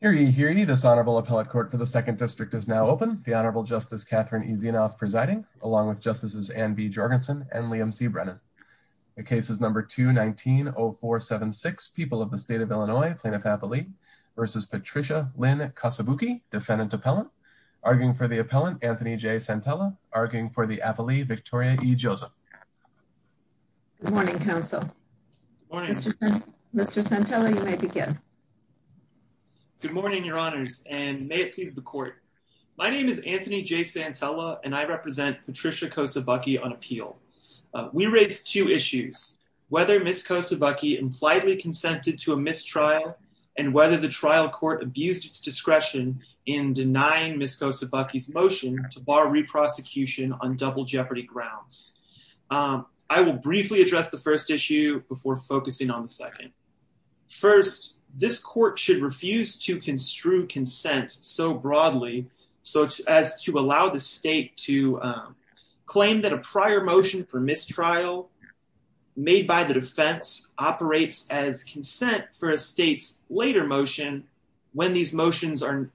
here you hear any dishonorable appellate court for the Second District is now open. The Honorable Justice Catherine easy enough presiding along with Justices and be Jorgensen and Liam C. Brennan. The case is number 219 or 476 people of the state of Illinois plaintiff happily versus Patricia Lynn Kosobucki defendant appellant arguing for the appellant Anthony J. Santella arguing for the appellee Victoria E. Joseph. Good morning Council. Mr. Santella you may begin. Good morning your honors and may it please the court. My name is Anthony J. Santella and I represent Patricia Kosobucki on appeal. We raised two issues whether Ms. Kosobucki impliedly consented to a mistrial and whether the trial court abused its discretion in denying Ms. Kosobucki's motion to bar re-prosecution on double jeopardy grounds. I will briefly address the first issue before focusing on the second. First this court should refuse to construe consent so broadly such as to allow the state to claim that a prior motion for mistrial made by the defense operates as consent for a state's later motion when these motions are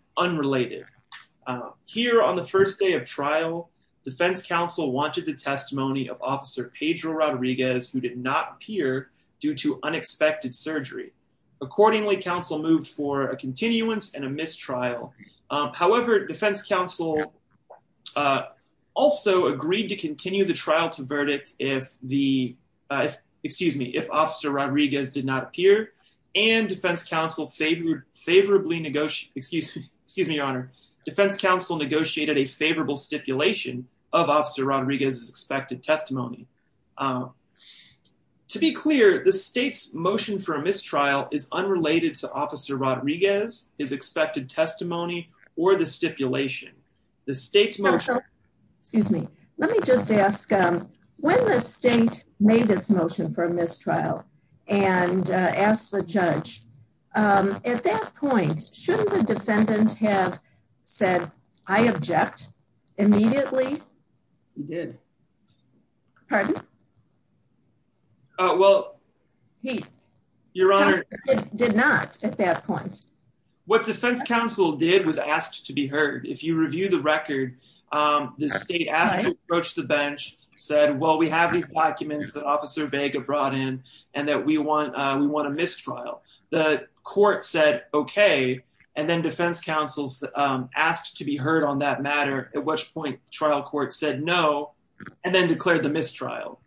here on the first day of trial. Defense counsel wanted the testimony of officer Pedro Rodriguez who did not appear due to unexpected surgery. Accordingly council moved for a continuance and a mistrial. However defense counsel also agreed to continue the trial to verdict if the excuse me if officer Rodriguez did not appear and defense counsel favored favorably negotiate excuse me defense counsel negotiated a favorable stipulation of officer Rodriguez's expected testimony. To be clear the state's motion for a mistrial is unrelated to officer Rodriguez's expected testimony or the stipulation. The state's motion excuse me let me just ask um when the state made its motion for a mistrial and asked the judge um at that point shouldn't the defendant have said I object immediately? He did. Pardon? Well he your honor did not at that point. What defense counsel did was asked to be heard. If you review the record um the state asked to bench said well we have these documents that officer Vega brought in and that we want uh we want a mistrial. The court said okay and then defense counsel asked to be heard on that matter at which point trial court said no and then declared the mistrial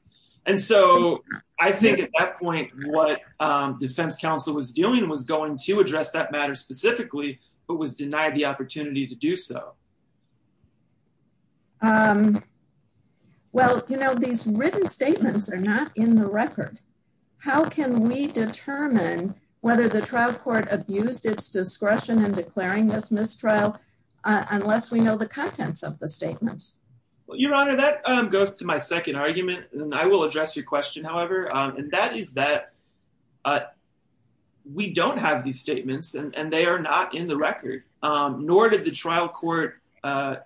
and so I think at that point what um defense counsel was doing was going to address that matter specifically but was denied the opportunity to do so. Um well you know these written statements are not in the record. How can we determine whether the trial court abused its discretion in declaring this mistrial unless we know the contents of the statement? Well your honor that um goes to my second argument and I will address your question however um and that is that uh we don't have these statements and they are not in the record um nor did the trial court uh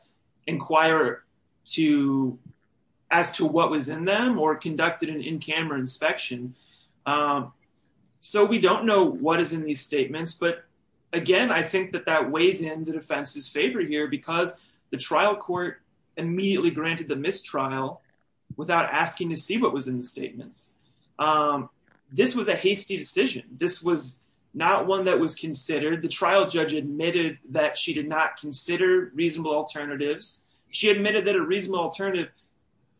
inquire to as to what was in them or conducted an in-camera inspection um so we don't know what is in these statements but again I think that that weighs in the defense's favor here because the trial court immediately granted the mistrial without asking to see what was in the statements. Um this was a hasty decision. This was not one that was considered. The trial judge admitted that she did not consider reasonable alternatives. She admitted that a reasonable alternative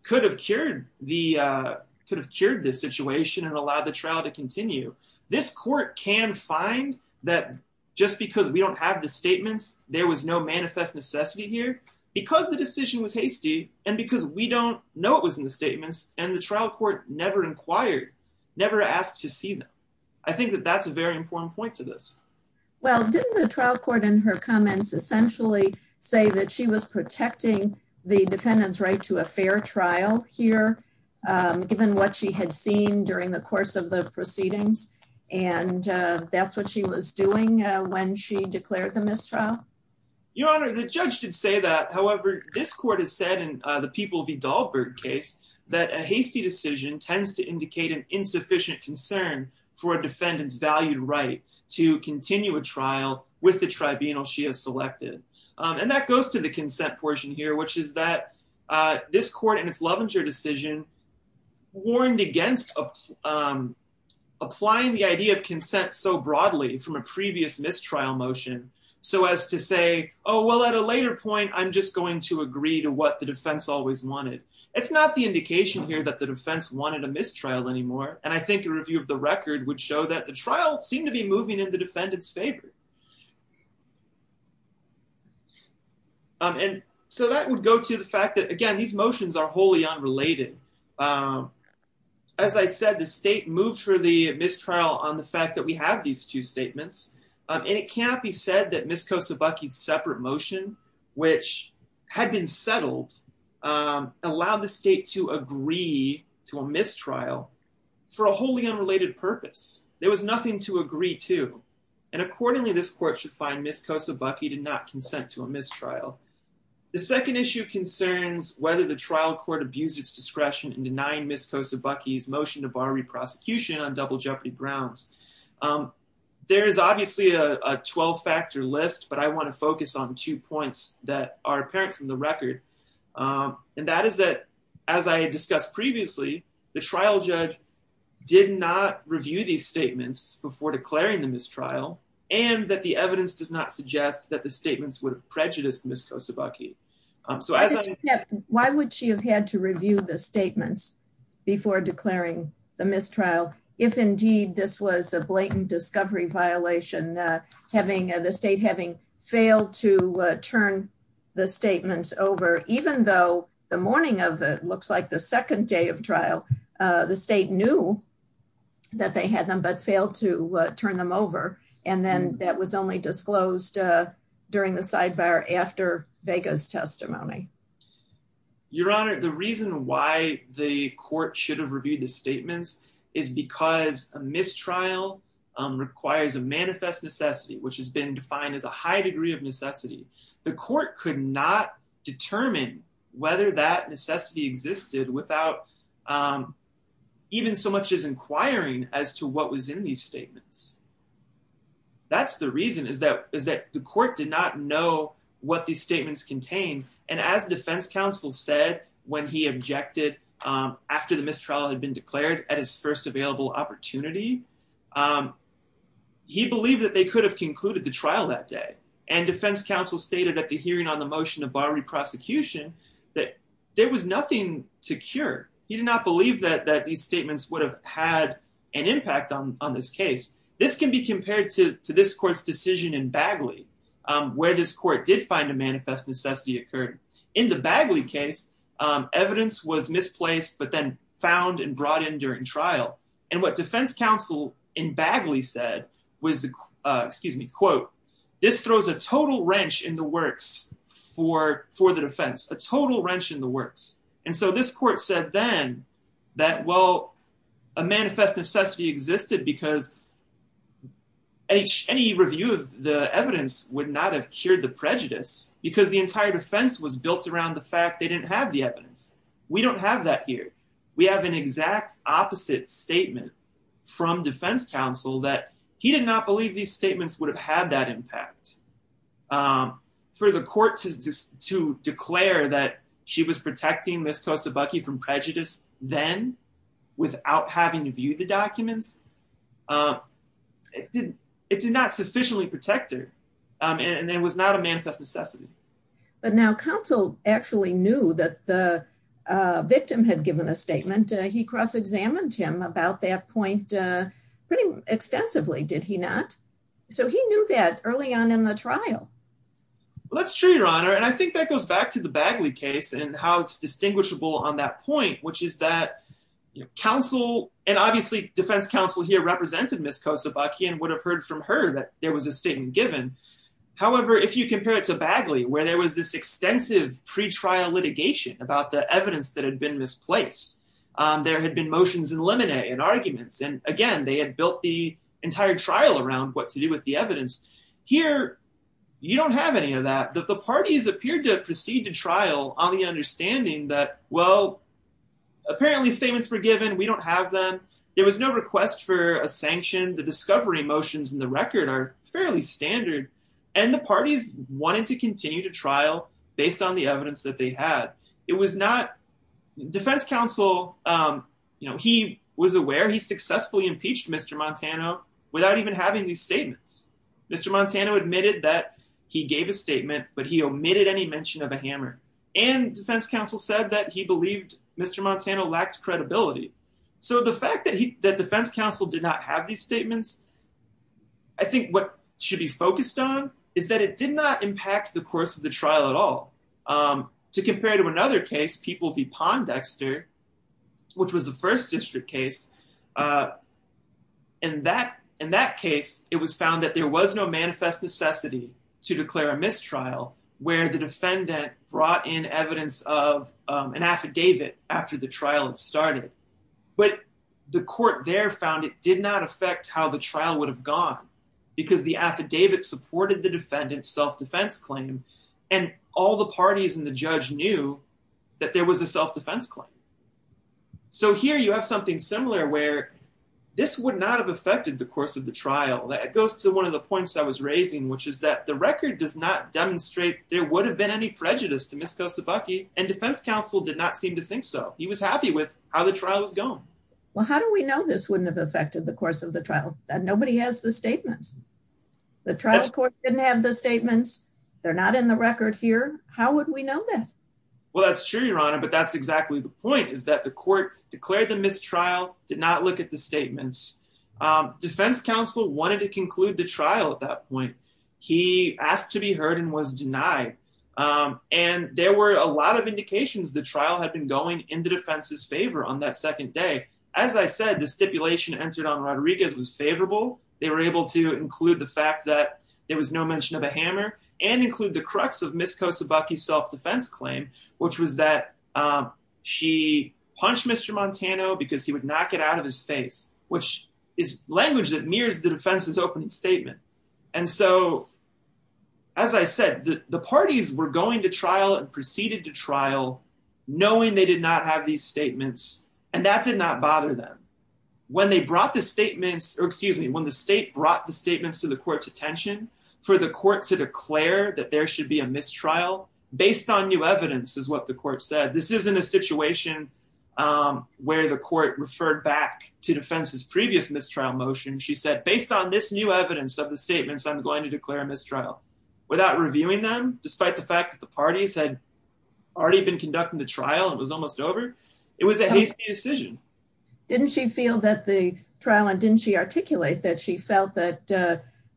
could have cured the uh could have cured this situation and allowed the trial to continue. This court can find that just because we don't have the statements there was no manifest necessity here because the decision was hasty and because we don't know what was in the statements and the trial court never inquired never asked to see them. I think that that's a very important point to this. Well didn't the trial court in her comments essentially say that she was protecting the defendant's right to a fair trial here um given what she had seen during the course of the proceedings and uh that's what she was doing when she declared the mistrial? Your honor the judge did say that however this court has said in uh the People v. Dahlberg case that a hasty decision tends to indicate an insufficient concern for a defendant's valued right to continue a trial with the tribunal she has selected um and that goes to the consent portion here which is that uh this court in its Lovinger decision warned against um applying the idea of consent so broadly from a previous mistrial motion so as to say oh well at a later point I'm just going to agree to what the defense always wanted. It's not the indication here that the defense wanted a mistrial anymore and I think a review of the record would show that the trial seemed to be moving in the defendant's favor. Um and so that would go to the fact that again these motions are wholly unrelated um as I said the state moved for the mistrial on the fact that we have these two statements and it can't be said that Ms. Kosobucki's separate motion which had been settled um allowed the state to agree to a mistrial for a wholly unrelated purpose there was nothing to agree to and accordingly this court should find Ms. Kosobucki did not consent to the trial court abused its discretion in denying Ms. Kosobucki's motion to bar re-prosecution on double jeopardy grounds. Um there is obviously a 12-factor list but I want to focus on two points that are apparent from the record um and that is that as I discussed previously the trial judge did not review these statements before declaring the mistrial and that the evidence does not suggest that the statements would have prejudiced Ms. Kosobucki. Um so why would she have had to review the statements before declaring the mistrial if indeed this was a blatant discovery violation uh having the state having failed to turn the statements over even though the morning of it looks like the second day of trial uh the state knew that they had them but failed to turn them over and then that was only disclosed during the sidebar after Vega's testimony. Your honor the reason why the court should have reviewed the statements is because a mistrial requires a manifest necessity which has been defined as a high degree of necessity. The court could not determine whether that necessity existed without um even so much as inquiring as to what was in these statements. That's the reason is that the court did not know what these statements contained and as defense counsel said when he objected um after the mistrial had been declared at his first available opportunity um he believed that they could have concluded the trial that day and defense counsel stated at the hearing on the motion of bar reprosecution that there was nothing to cure. He did not believe that that these statements would have had an impact on on this case. This can be compared to to this court's decision in Bagley um where this court did find a manifest necessity occurred. In the Bagley case evidence was misplaced but then found and brought in during trial and what defense counsel in Bagley said was uh excuse me quote this throws a total wrench in the works for for the defense a total wrench in the works and so this court said then that well a manifest necessity existed because any any review of the evidence would not have cured the prejudice because the entire defense was built around the fact they didn't have the evidence. We don't have that here. We have an exact opposite statement from defense counsel that he did not believe these statements would have had that impact. Um for the court to declare that she was protecting Ms. Kosobucki from prejudice then without having to view the documents um it did it did not sufficiently protect her um and it was not a manifest necessity. But now counsel actually knew that the uh victim had given a statement. He cross-examined him about that point uh pretty extensively did he not? So he knew that early on in the trial. Well that's true your honor and I think that goes back to the Bagley case and how it's distinguishable on that point which is that you know counsel and obviously defense counsel here represented Ms. Kosobucki and would have heard from her that there was a statement given. However if you compare it to Bagley where there was this extensive pre-trial litigation about the evidence that had been misplaced um there had been motions in limine and arguments and again they had built the entire trial around what to do with the evidence. Here you don't have any of that. The parties appeared to proceed to trial on the understanding that well apparently statements were given we don't have them. There was no request for a sanction. The discovery motions in the record are fairly standard and the parties wanted to continue to trial based on the evidence that they had. It was not defense counsel um you know he was aware he successfully impeached Mr. Montano without even having these statements. Mr. Montano admitted that he gave a statement but he omitted any mention of a hammer and defense counsel said that he believed Mr. Montano lacked credibility. So the fact that he that defense counsel did not have these statements I think what should be focused on is that it did not impact the course of the trial at all um to compare to another case People v. Pondexter which was the first district case uh in that in that case it was found that there was no manifest necessity to declare a mistrial where the defendant brought in evidence of an affidavit after the trial had started but the court there found it did not affect how the trial would have gone because the affidavit supported the defendant's self-defense claim and all the parties and the judge knew that there was a self-defense claim. So here you have something similar where this would not have affected the course of the trial that goes to one of the points I was raising which is that the record does not demonstrate there would have been any prejudice to Ms. Kosobucki and defense counsel did not seem to think so. He was happy with how the trial was going. Well how do we know this wouldn't have affected the course of the they're not in the record here how would we know that? Well that's true your honor but that's exactly the point is that the court declared the mistrial did not look at the statements um defense counsel wanted to conclude the trial at that point he asked to be heard and was denied um and there were a lot of indications the trial had been going in the defense's favor on that second day as I said the stipulation entered on Rodriguez was favorable they were able to include the fact that there was no mention of a hammer and include the crux of Ms. Kosobucki's self-defense claim which was that um she punched Mr. Montano because he would knock it out of his face which is language that mirrors the defense's opening statement and so as I said the the parties were going to trial and proceeded to trial knowing they did not have these statements and that did not bother them when they brought the statements or excuse me when the state brought the for the court to declare that there should be a mistrial based on new evidence is what the court said this isn't a situation um where the court referred back to defense's previous mistrial motion she said based on this new evidence of the statements I'm going to declare a mistrial without reviewing them despite the fact that the parties had already been conducting the trial it was almost over it was a hasty decision. Didn't she feel that the trial and didn't she articulate that she felt that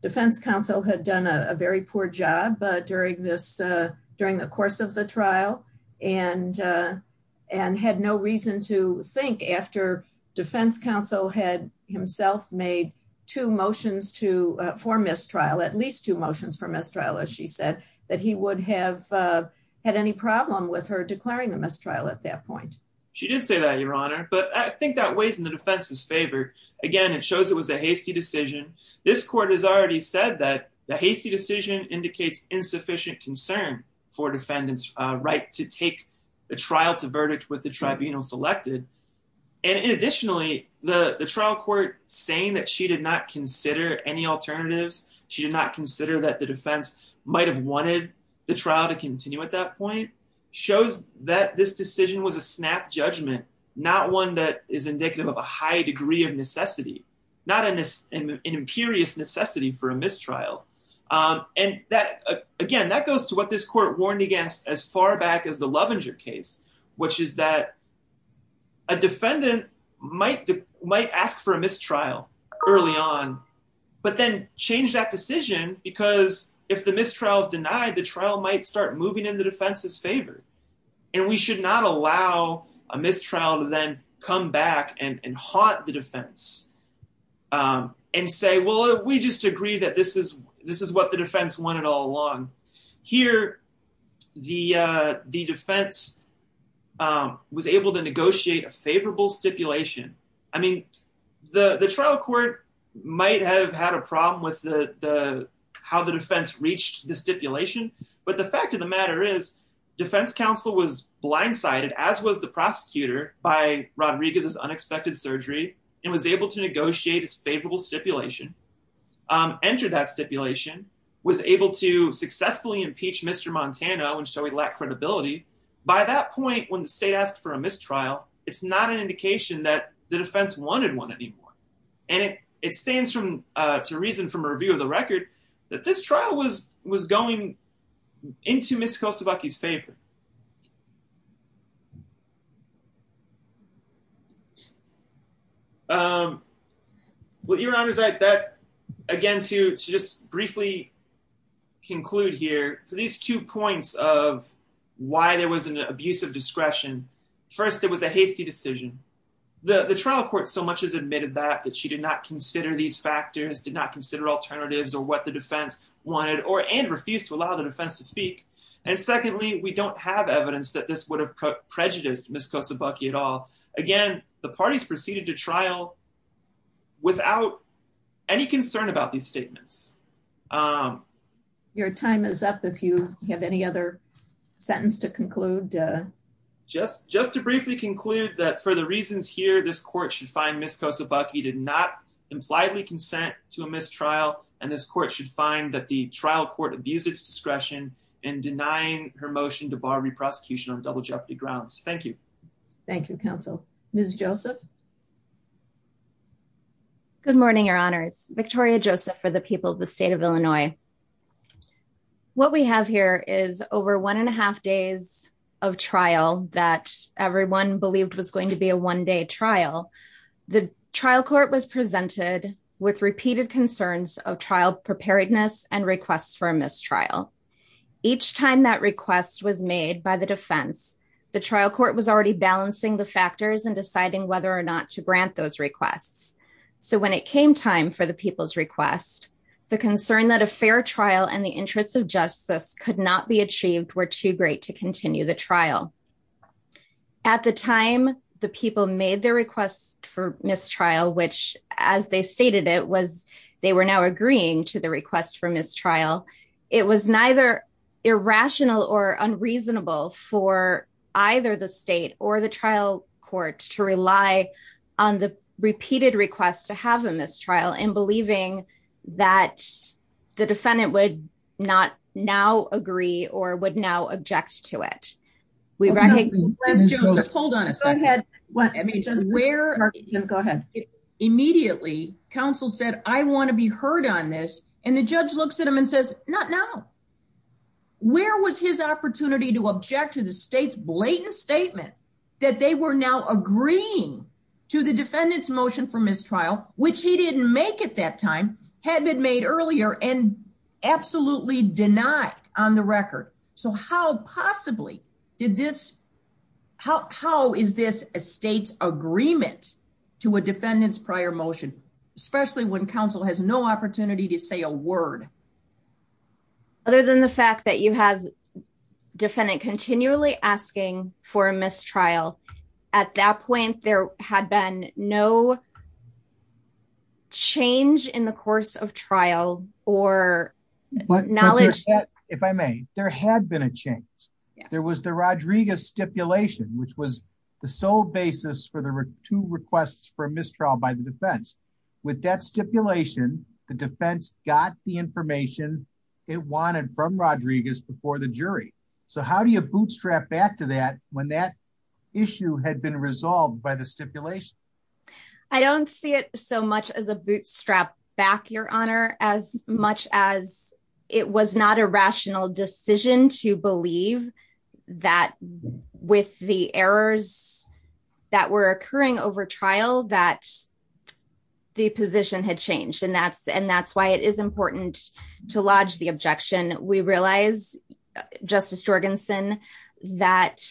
defense counsel had done a very poor job during this uh during the course of the trial and and had no reason to think after defense counsel had himself made two motions to for mistrial at least two motions for mistrial as she said that he would have had any problem with her declaring the mistrial at that point? She did say that your honor but I think that decision this court has already said that the hasty decision indicates insufficient concern for defendants right to take the trial to verdict with the tribunal selected and additionally the the trial court saying that she did not consider any alternatives she did not consider that the defense might have wanted the trial to continue at that point shows that this decision was a snap judgment not one that is indicative of a high degree of necessity not an imperious necessity for a mistrial and that again that goes to what this court warned against as far back as the Lovinger case which is that a defendant might might ask for a mistrial early on but then change that decision because if the mistrial is denied the trial might start moving in the defense's favor and we should not allow a mistrial to then come back and and haunt the defense and say well we just agree that this is this is what the defense wanted all along here the the defense was able to negotiate a favorable stipulation I mean the the trial court might have had a problem with the the how the defense reached the stipulation but the fact of the matter is defense counsel was blindsided as was the prosecutor by Rodriguez's unexpected surgery and was able to negotiate his favorable stipulation entered that stipulation was able to successfully impeach Mr. Montano and show he lacked credibility by that point when the state asked for a mistrial it's not an indication that the defense wanted one anymore and it it stands from uh to reason from a review of the record that this trial was was going into Mr. Kostobucki's favor um well your honor is that that again to to just briefly conclude here for these two points of why there was an abuse of discretion first it was a hasty decision the the trial court so much as admitted that that she did not consider these factors did not consider alternatives or what the defense wanted or and refused to allow the defense to speak and secondly we don't have evidence that this would have prejudiced Ms. Kostobucki at all again the parties proceeded to trial without any concern about these statements um your time is up if you have any other sentence to conclude uh just just to briefly conclude that for the reasons here this to a mistrial and this court should find that the trial court abused its discretion in denying her motion to bar reprosecution on double jeopardy grounds thank you thank you counsel miss joseph good morning your honors victoria joseph for the people of the state of illinois what we have here is over one and a half days of trial that everyone believed was going to be a one-day trial the trial court was presented with repeated concerns of trial preparedness and requests for a mistrial each time that request was made by the defense the trial court was already balancing the factors and deciding whether or not to grant those requests so when it came time for the people's request the concern that a fair trial and the interests of justice could not be achieved were too great to continue the trial at the time the people made their request for mistrial which as they stated it was they were now agreeing to the request for mistrial it was neither irrational or unreasonable for either the state or the trial court to rely on the repeated request to have a mistrial in believing that the defendant would not now agree or would now object to it we recognize hold on a second go ahead immediately counsel said i want to be heard on this and the judge looks at him and says not now where was his opportunity to object to the state's blatant statement that they were now agreeing to the defendant's motion for mistrial which he didn't make at that time had been made earlier and absolutely denied on the record so how possibly did this how how is this a state's agreement to a defendant's prior motion especially when council has no opportunity to say a word other than the fact that you have defendant continually asking for a mistrial at that point there had been no change in the course of trial or knowledge if i may there had been a change there was the rodriguez stipulation which was the sole basis for the two requests for mistrial by the defense with that stipulation the defense got the information it wanted from rodriguez before the jury so how do you bootstrap back to that when that issue had been resolved by the stipulation i don't see it so much as a bootstrap back your honor as much as it was not a rational decision to believe that with the errors that were occurring over trial that the position had changed and that's and that's why it is to lodge the objection we realize justice jorgensen that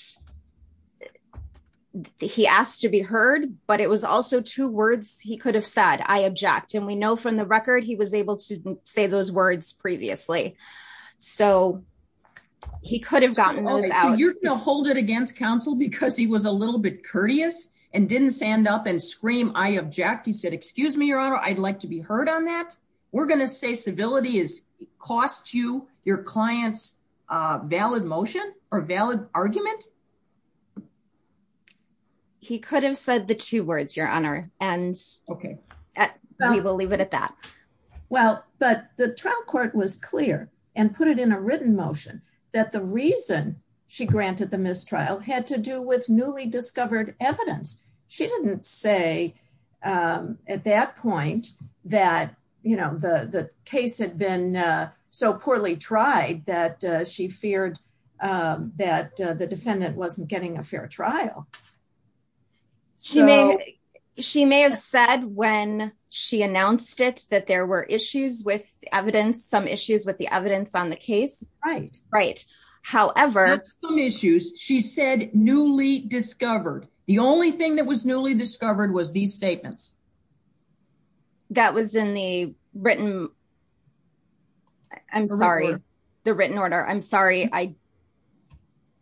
he asked to be heard but it was also two words he could have said i object and we know from the record he was able to say those words previously so he could have gotten you're gonna hold it against counsel because he was a little bit courteous and didn't stand up and scream i object he said excuse me your honor i'd like to be heard on that we're gonna say civility is cost you your clients uh valid motion or valid argument he could have said the two words your honor and okay we will leave it at that well but the trial court was clear and put it in a written motion that the reason she granted the mistrial had to say at that point that you know the the case had been so poorly tried that she feared that the defendant wasn't getting a fair trial she may she may have said when she announced it that there were issues with evidence some issues with the evidence on the case right right however some issues she said newly discovered the only thing that was newly discovered was these statements that was in the written i'm sorry the written order i'm sorry i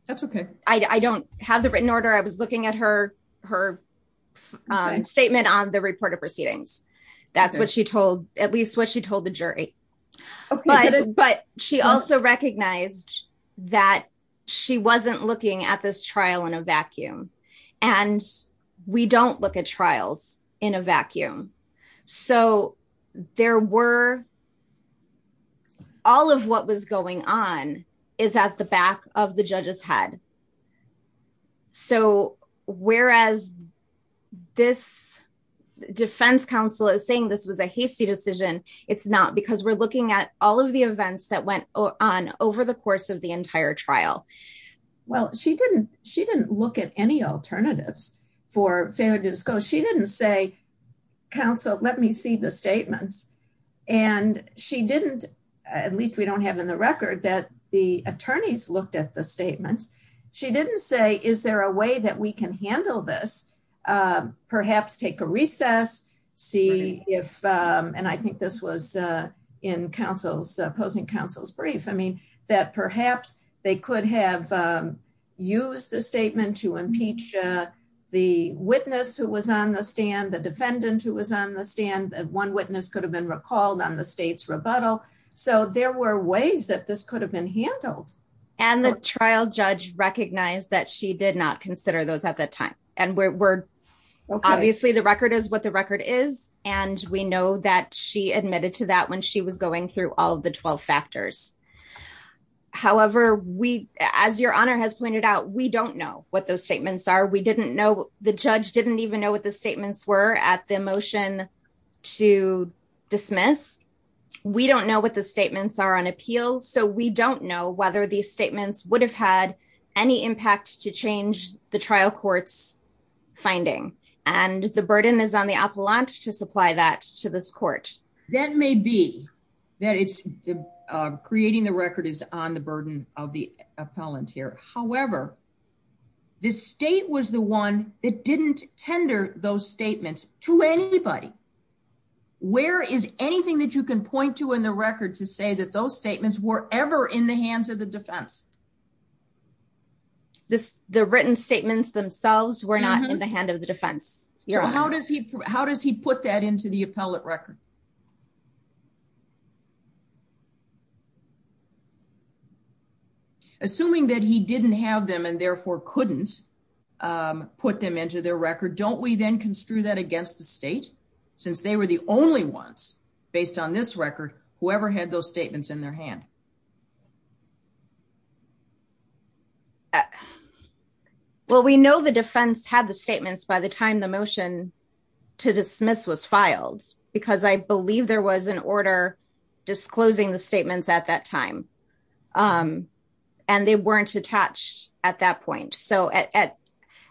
that's okay i don't have the written order i was looking at her her statement on the report of proceedings that's what she told at least what she told the jury but but she also recognized that she wasn't looking at this trial in a vacuum and we don't look at trials in a vacuum so there were all of what was going on is at the back of the judge's head so whereas this defense counsel is saying this was a hasty decision it's not because we're looking at all of the events that went on over the course of the entire trial well she didn't she didn't look at any alternatives for failure to disclose she didn't say counsel let me see the statements and she didn't at least we don't have in the record that the attorneys looked at the statements she didn't say is there a way that we can handle this perhaps take a recess see if and i think this was in counsel's opposing counsel's brief i mean that perhaps they could have used the statement to impeach the witness who was on the stand the defendant who was on the stand one witness could have been recalled on the state's rebuttal so there were ways that this could have been handled and the trial judge recognized that she did not at that time and we're obviously the record is what the record is and we know that she admitted to that when she was going through all the 12 factors however we as your honor has pointed out we don't know what those statements are we didn't know the judge didn't even know what the statements were at the motion to dismiss we don't know what the statements are on appeal so we don't know whether these statements would have had any impact to change the trial court's finding and the burden is on the appellant to supply that to this court that may be that it's creating the record is on the burden of the appellant here however the state was the one that didn't tender those statements to anybody where is anything that you can point to in the record to say that those defense this the written statements themselves were not in the hand of the defense yeah how does he how does he put that into the appellate record assuming that he didn't have them and therefore couldn't put them into their record don't we then construe that against the state since they were the only ones based on this record whoever had those statements in their hand uh well we know the defense had the statements by the time the motion to dismiss was filed because i believe there was an order disclosing the statements at that time um and they weren't attached at that point so at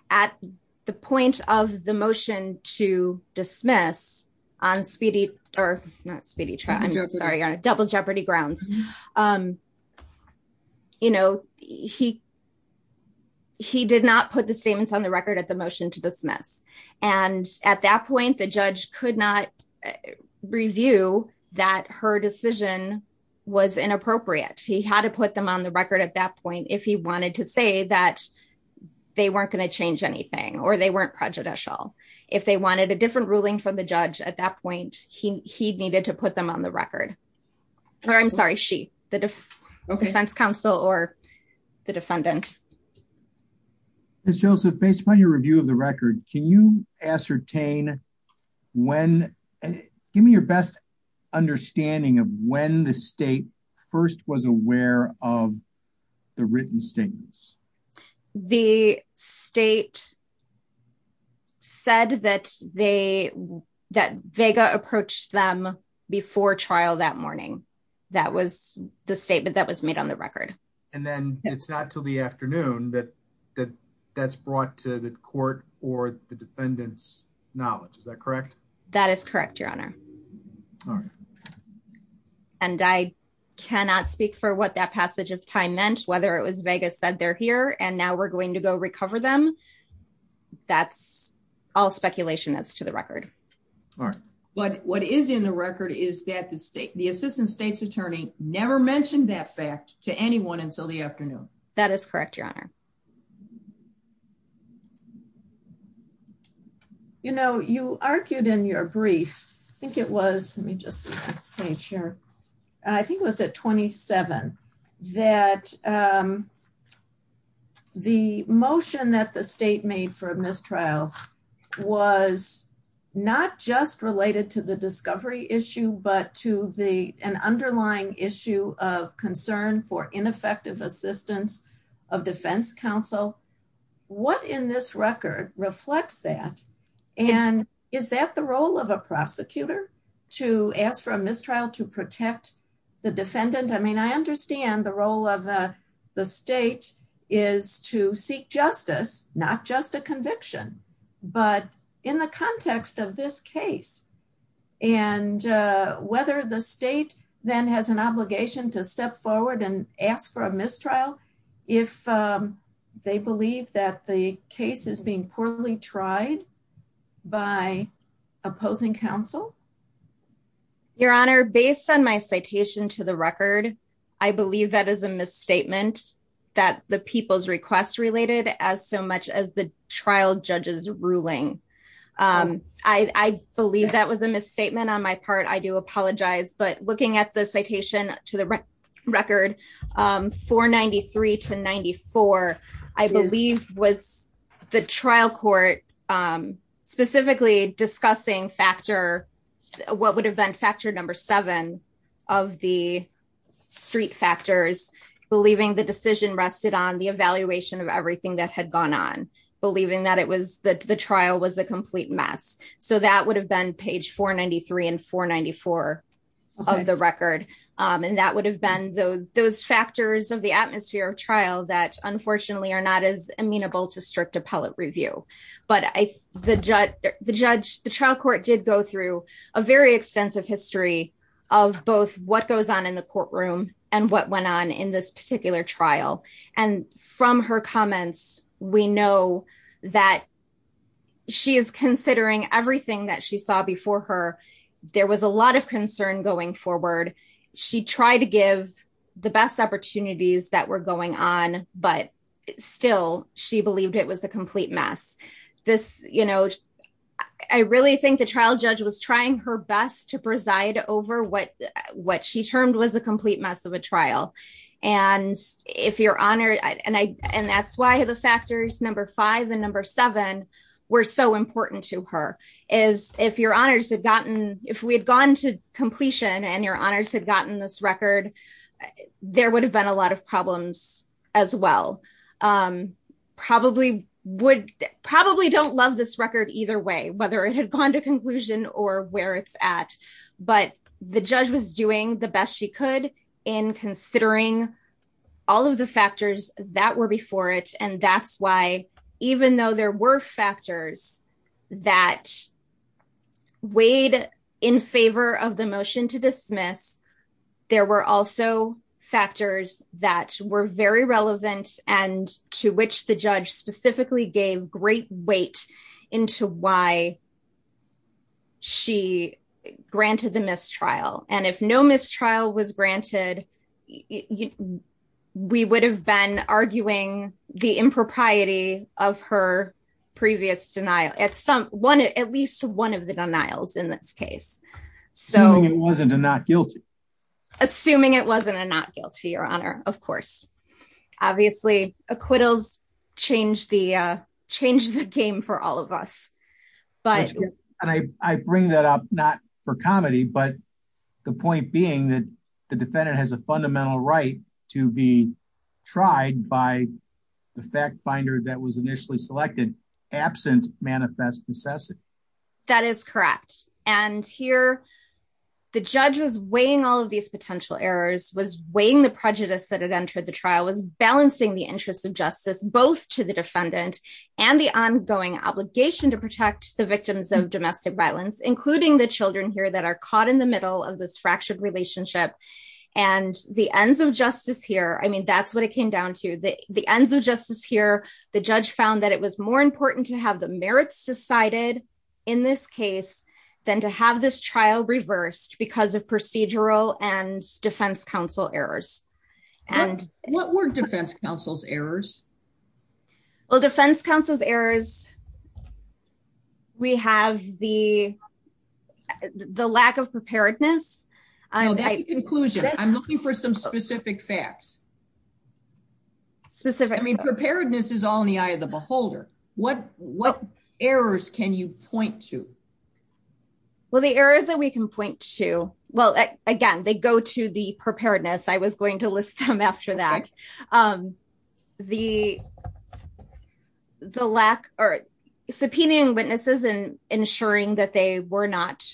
at the point of the motion to dismiss on speedy or not speedy sorry on double jeopardy grounds um you know he he did not put the statements on the record at the motion to dismiss and at that point the judge could not review that her decision was inappropriate he had to put them on the record at that point if he wanted to say that they weren't going to change anything or they weren't prejudicial if they wanted a different ruling from the judge at that point he he needed to put them on the record or i'm sorry she the defense counsel or the defendant miss joseph based upon your review of the record can you ascertain when give me your best understanding of when the state first was aware of the written statements the state said that they that vega approached them before trial that morning that was the statement that was made on the record and then it's not till the afternoon but that that's brought to the court or the defendant's knowledge is that correct that is correct your honor all right and i cannot speak for what that passage of time meant whether it was vega said they're here and now we're going to go recover them that's all speculation as to the record all right but what is in the record is that the state the assistant state's attorney never mentioned that fact to anyone until the afternoon that is correct your honor you know you argued in your brief i think it was let me just make sure i think it was at 27 that um the motion that the state made for a mistrial was not just related to the discovery of the record it was related to the defense counsel what in this record reflects that and is that the role of a prosecutor to ask for a mistrial to protect the defendant i mean i understand the role of uh the state is to seek justice not just a conviction but in the context of this case and whether the state then has an obligation to step forward and ask for a mistrial if they believe that the case is being poorly tried by opposing counsel your honor based on my citation to the record i believe that is a misstatement that the people's requests related as so much as the trial judge's ruling um i i believe that was a misstatement on my part i do apologize but looking at the citation to the record um 493 to 94 i believe was the trial court um specifically discussing factor what would have been factor number seven of the street factors believing the believing that it was that the trial was a complete mess so that would have been page 493 and 494 of the record um and that would have been those those factors of the atmosphere of trial that unfortunately are not as amenable to strict appellate review but i the judge the judge the trial court did go through a very extensive history of both what goes on in the courtroom and what went on in this particular trial and from her comments we know that she is considering everything that she saw before her there was a lot of concern going forward she tried to give the best opportunities that were going on but still she believed it was a complete mess this you know i really think the trial judge was trying her best to preside over what what she termed was a complete mess of a trial and if you're honored and i and that's why the factors number five and number seven were so important to her is if your honors had gotten if we had gone to completion and your honors had gotten this record there would have been a lot of problems as well um probably would probably don't love this record either way whether it had gone to in considering all of the factors that were before it and that's why even though there were factors that weighed in favor of the motion to dismiss there were also factors that were very relevant and to which the judge specifically gave great weight into why she granted the mistrial and if no mistrial was granted we would have been arguing the impropriety of her previous denial at some one at least one of the denials in this case so it wasn't a not guilty assuming it wasn't a not guilty your honor of course obviously acquittals change the uh but and i i bring that up not for comedy but the point being that the defendant has a fundamental right to be tried by the fact finder that was initially selected absent manifest necessity that is correct and here the judge was weighing all of these potential errors was weighing the prejudice that had entered the trial was balancing the interest of justice both to the defendant and the ongoing obligation to protect the victims of domestic violence including the children here that are caught in the middle of this fractured relationship and the ends of justice here i mean that's what it came down to the the ends of justice here the judge found that it was more important to have the merits decided in this case than to have this trial reversed because of procedural and defense counsel's errors we have the the lack of preparedness i know that conclusion i'm looking for some specific facts specific i mean preparedness is all in the eye of the beholder what what errors can you point to well the errors that we can point to well again they go to the the lack or subpoenaing witnesses and ensuring that they were not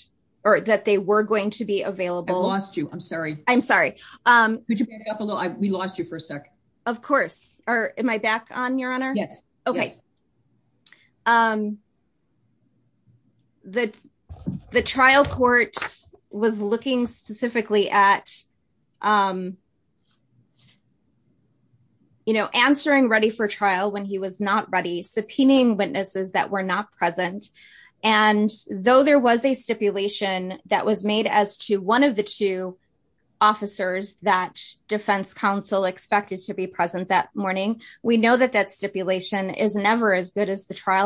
or that they were going to be available i lost you i'm sorry i'm sorry um could you back up a little we lost you for a sec of course or am i back on your honor yes okay um the the trial court was looking specifically at um you know answering ready for trial when he was not ready subpoenaing witnesses that were not present and though there was a stipulation that was made as to one of the two officers that defense counsel expected to be present that morning we know that that stipulation is never as good as grant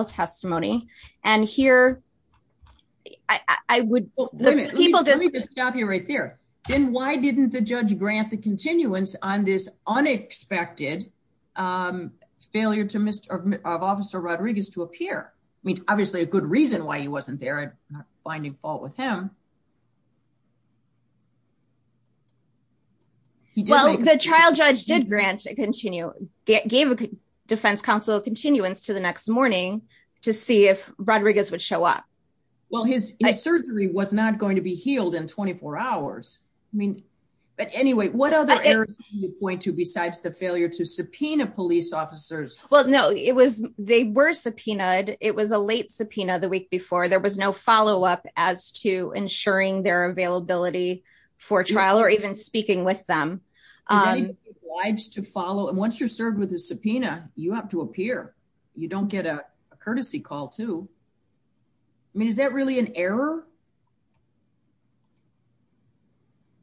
the continuance on this unexpected um failure to mr of officer rodriguez to appear i mean obviously a good reason why he wasn't there not finding fault with him he did well the trial judge did grant a continue gave a defense counsel continuance to the next morning to see if rodriguez would show up well his his surgery was not going to be healed in 24 hours i mean but anyway what other errors do you point to besides the failure to subpoena police officers well no it was they were subpoenaed it was a late subpoena the week before there was no follow-up as to ensuring their availability for trial or even speaking with them lives to follow and once you're served with a subpoena you have to appear you don't get a courtesy call too i mean is that really an error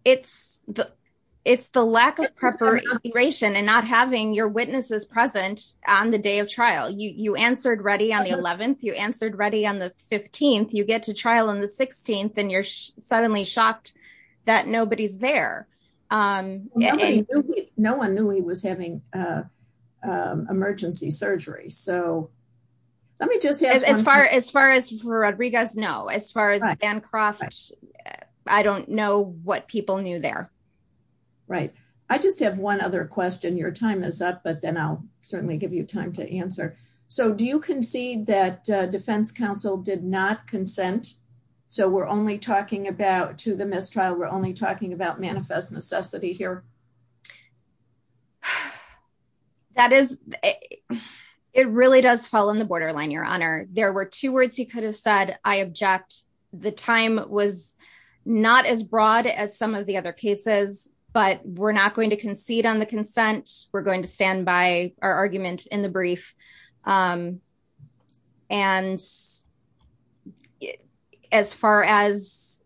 it's the it's the lack of preparation and not having your witnesses present on the day of trial you you answered ready on the 11th you answered ready on the 15th you get to trial on the 16th and you're suddenly shocked that nobody's there um no one knew he was having uh um emergency surgery so let me just as far as far as rodriguez no as far as vancroft i don't know what people knew there right i just have one other question your time is up but then i'll certainly give you time to answer so do you concede that defense counsel did not consent so we're only talking about to the mistrial we're only talking about manifest necessity here that is it really does fall on the borderline your honor there were two words he could have said i object the time was not as broad as some of the other cases but we're not going to concede on the consent we're going to stand by our argument in um and as far as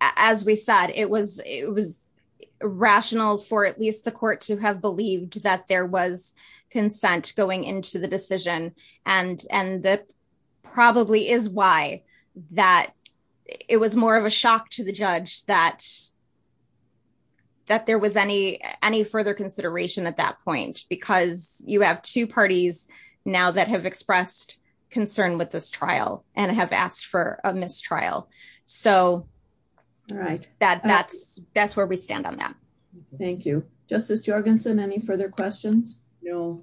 as we said it was it was rational for at least the court to have believed that there was consent going into the decision and and that probably is why that it was more of a shock to the judge that that there was any any further consideration at that point because you have two parties now that have expressed concern with this trial and have asked for a mistrial so all right that that's that's where we stand on that thank you justice jorgensen any further questions no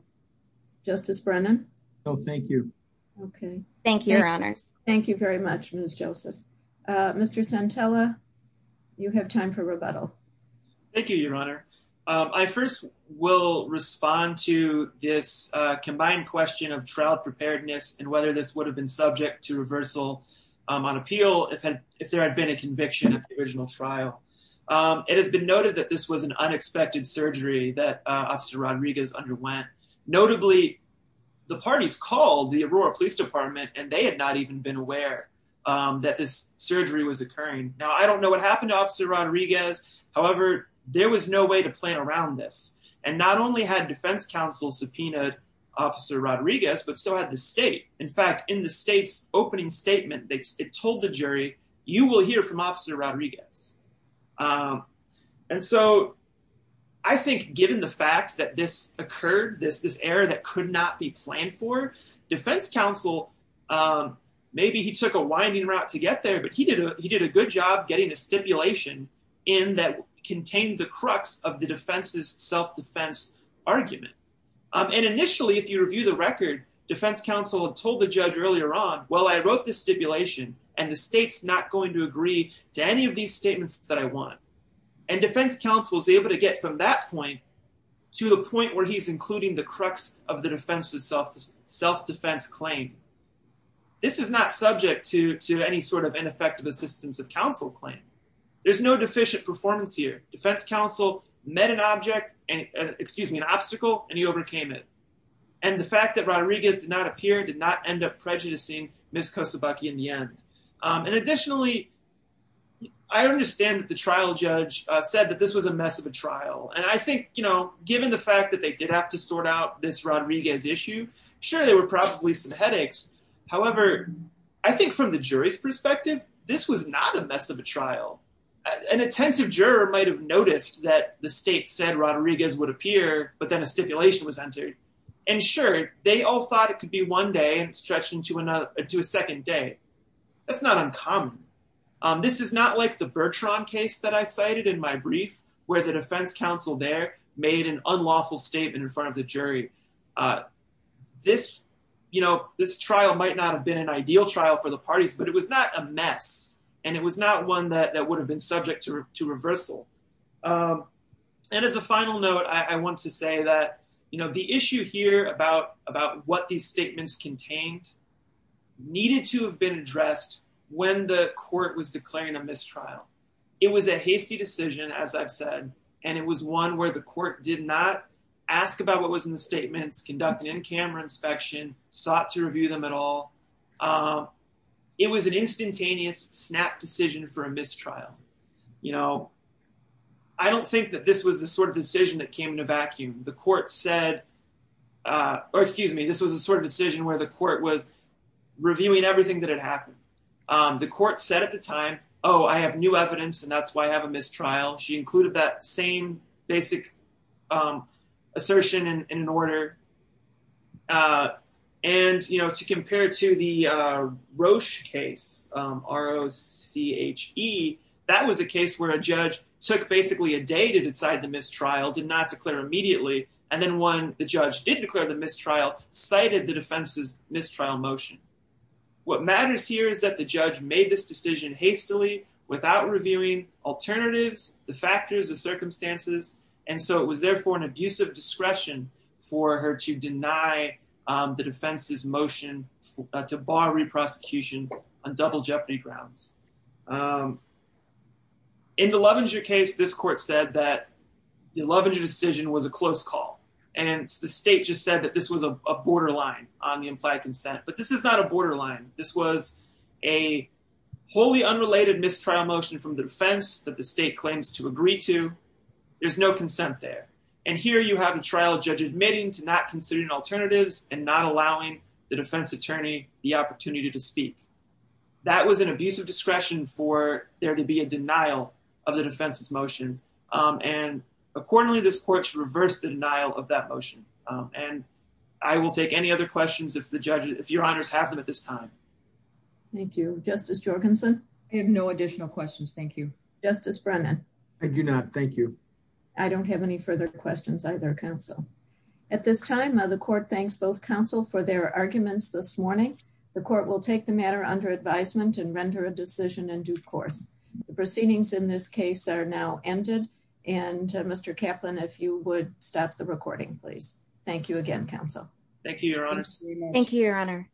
justice brennan no thank you okay thank you your honors thank you very much miss joseph uh mr santella you have time for rebuttal thank you your honor um i first will respond to this uh combined question of trial preparedness and whether this would have been subject to reversal um on appeal if had if there had been a conviction of the original trial um it has been noted that this was an unexpected surgery that officer rodriguez underwent notably the parties called the aurora police department and they had not even been aware um that this surgery was occurring now i don't know what happened to officer rodriguez however there was no way to plan around this and not only had defense counsel subpoenaed officer rodriguez but so had the state in fact in the state's opening statement they told the jury you will hear from this error that could not be planned for defense counsel um maybe he took a winding route to get there but he did he did a good job getting a stipulation in that contained the crux of the defense's self-defense argument um and initially if you review the record defense counsel had told the judge earlier on well i wrote this stipulation and the state's not going to agree to any of these statements that i want and defense counsel is able to get from that point to the point where he's the crux of the defense's self self-defense claim this is not subject to to any sort of ineffective assistance of counsel claim there's no deficient performance here defense counsel met an object and excuse me an obstacle and he overcame it and the fact that rodriguez did not appear did not end up prejudicing miss kosobucky in the end um and additionally i understand that the trial judge uh said that this was a mess of a trial and i think you know given the fact that they did have to sort out this rodriguez issue sure there were probably some headaches however i think from the jury's perspective this was not a mess of a trial an attentive juror might have noticed that the state said rodriguez would appear but then a stipulation was entered and sure they all thought it could be one day and stretched into another to a second day that's not uncommon um this is not like the bertrand case that i cited in my brief where defense counsel there made an unlawful statement in front of the jury uh this you know this trial might not have been an ideal trial for the parties but it was not a mess and it was not one that that would have been subject to to reversal um and as a final note i want to say that you know the issue here about about what these statements contained needed to have been addressed when the and it was one where the court did not ask about what was in the statements conducting in-camera inspection sought to review them at all um it was an instantaneous snap decision for a mistrial you know i don't think that this was the sort of decision that came in a vacuum the court said uh or excuse me this was a sort of decision where the court was reviewing everything that had happened um the court said at the time oh i have new evidence and that's why i have a mistrial she included that same basic um assertion in an order uh and you know to compare it to the uh roche case um r-o-c-h-e that was a case where a judge took basically a day to decide the mistrial did not declare immediately and then when the judge did declare the mistrial cited the defense's mistrial motion what matters here is that the judge made this decision hastily without reviewing alternatives the factors the circumstances and so it was therefore an abusive discretion for her to deny um the defense's motion to bar re-prosecution on double jeopardy grounds in the lovinger case this court said that the lovinger decision was a close call and the state just said that this was a borderline on the implied consent but this is not a borderline this was a wholly unrelated mistrial motion from the defense that the state claims to agree to there's no consent there and here you have a trial judge admitting to not considering alternatives and not allowing the defense attorney the opportunity to speak that was an abusive discretion for there to be a denial of the defense's motion um and accordingly this court should reverse the denial of that motion um and i will take any other questions if the judge if your honors have them at this time thank you justice jorgensen i have no additional questions thank you justice brennan i do not thank you i don't have any further questions either counsel at this time now the court thanks both counsel for their arguments this morning the court will take the matter under advisement and render a decision in due course the proceedings in this case are now ended and mr caplan if you would stop the recording please thank you again counsel thank you your honors thank you your honor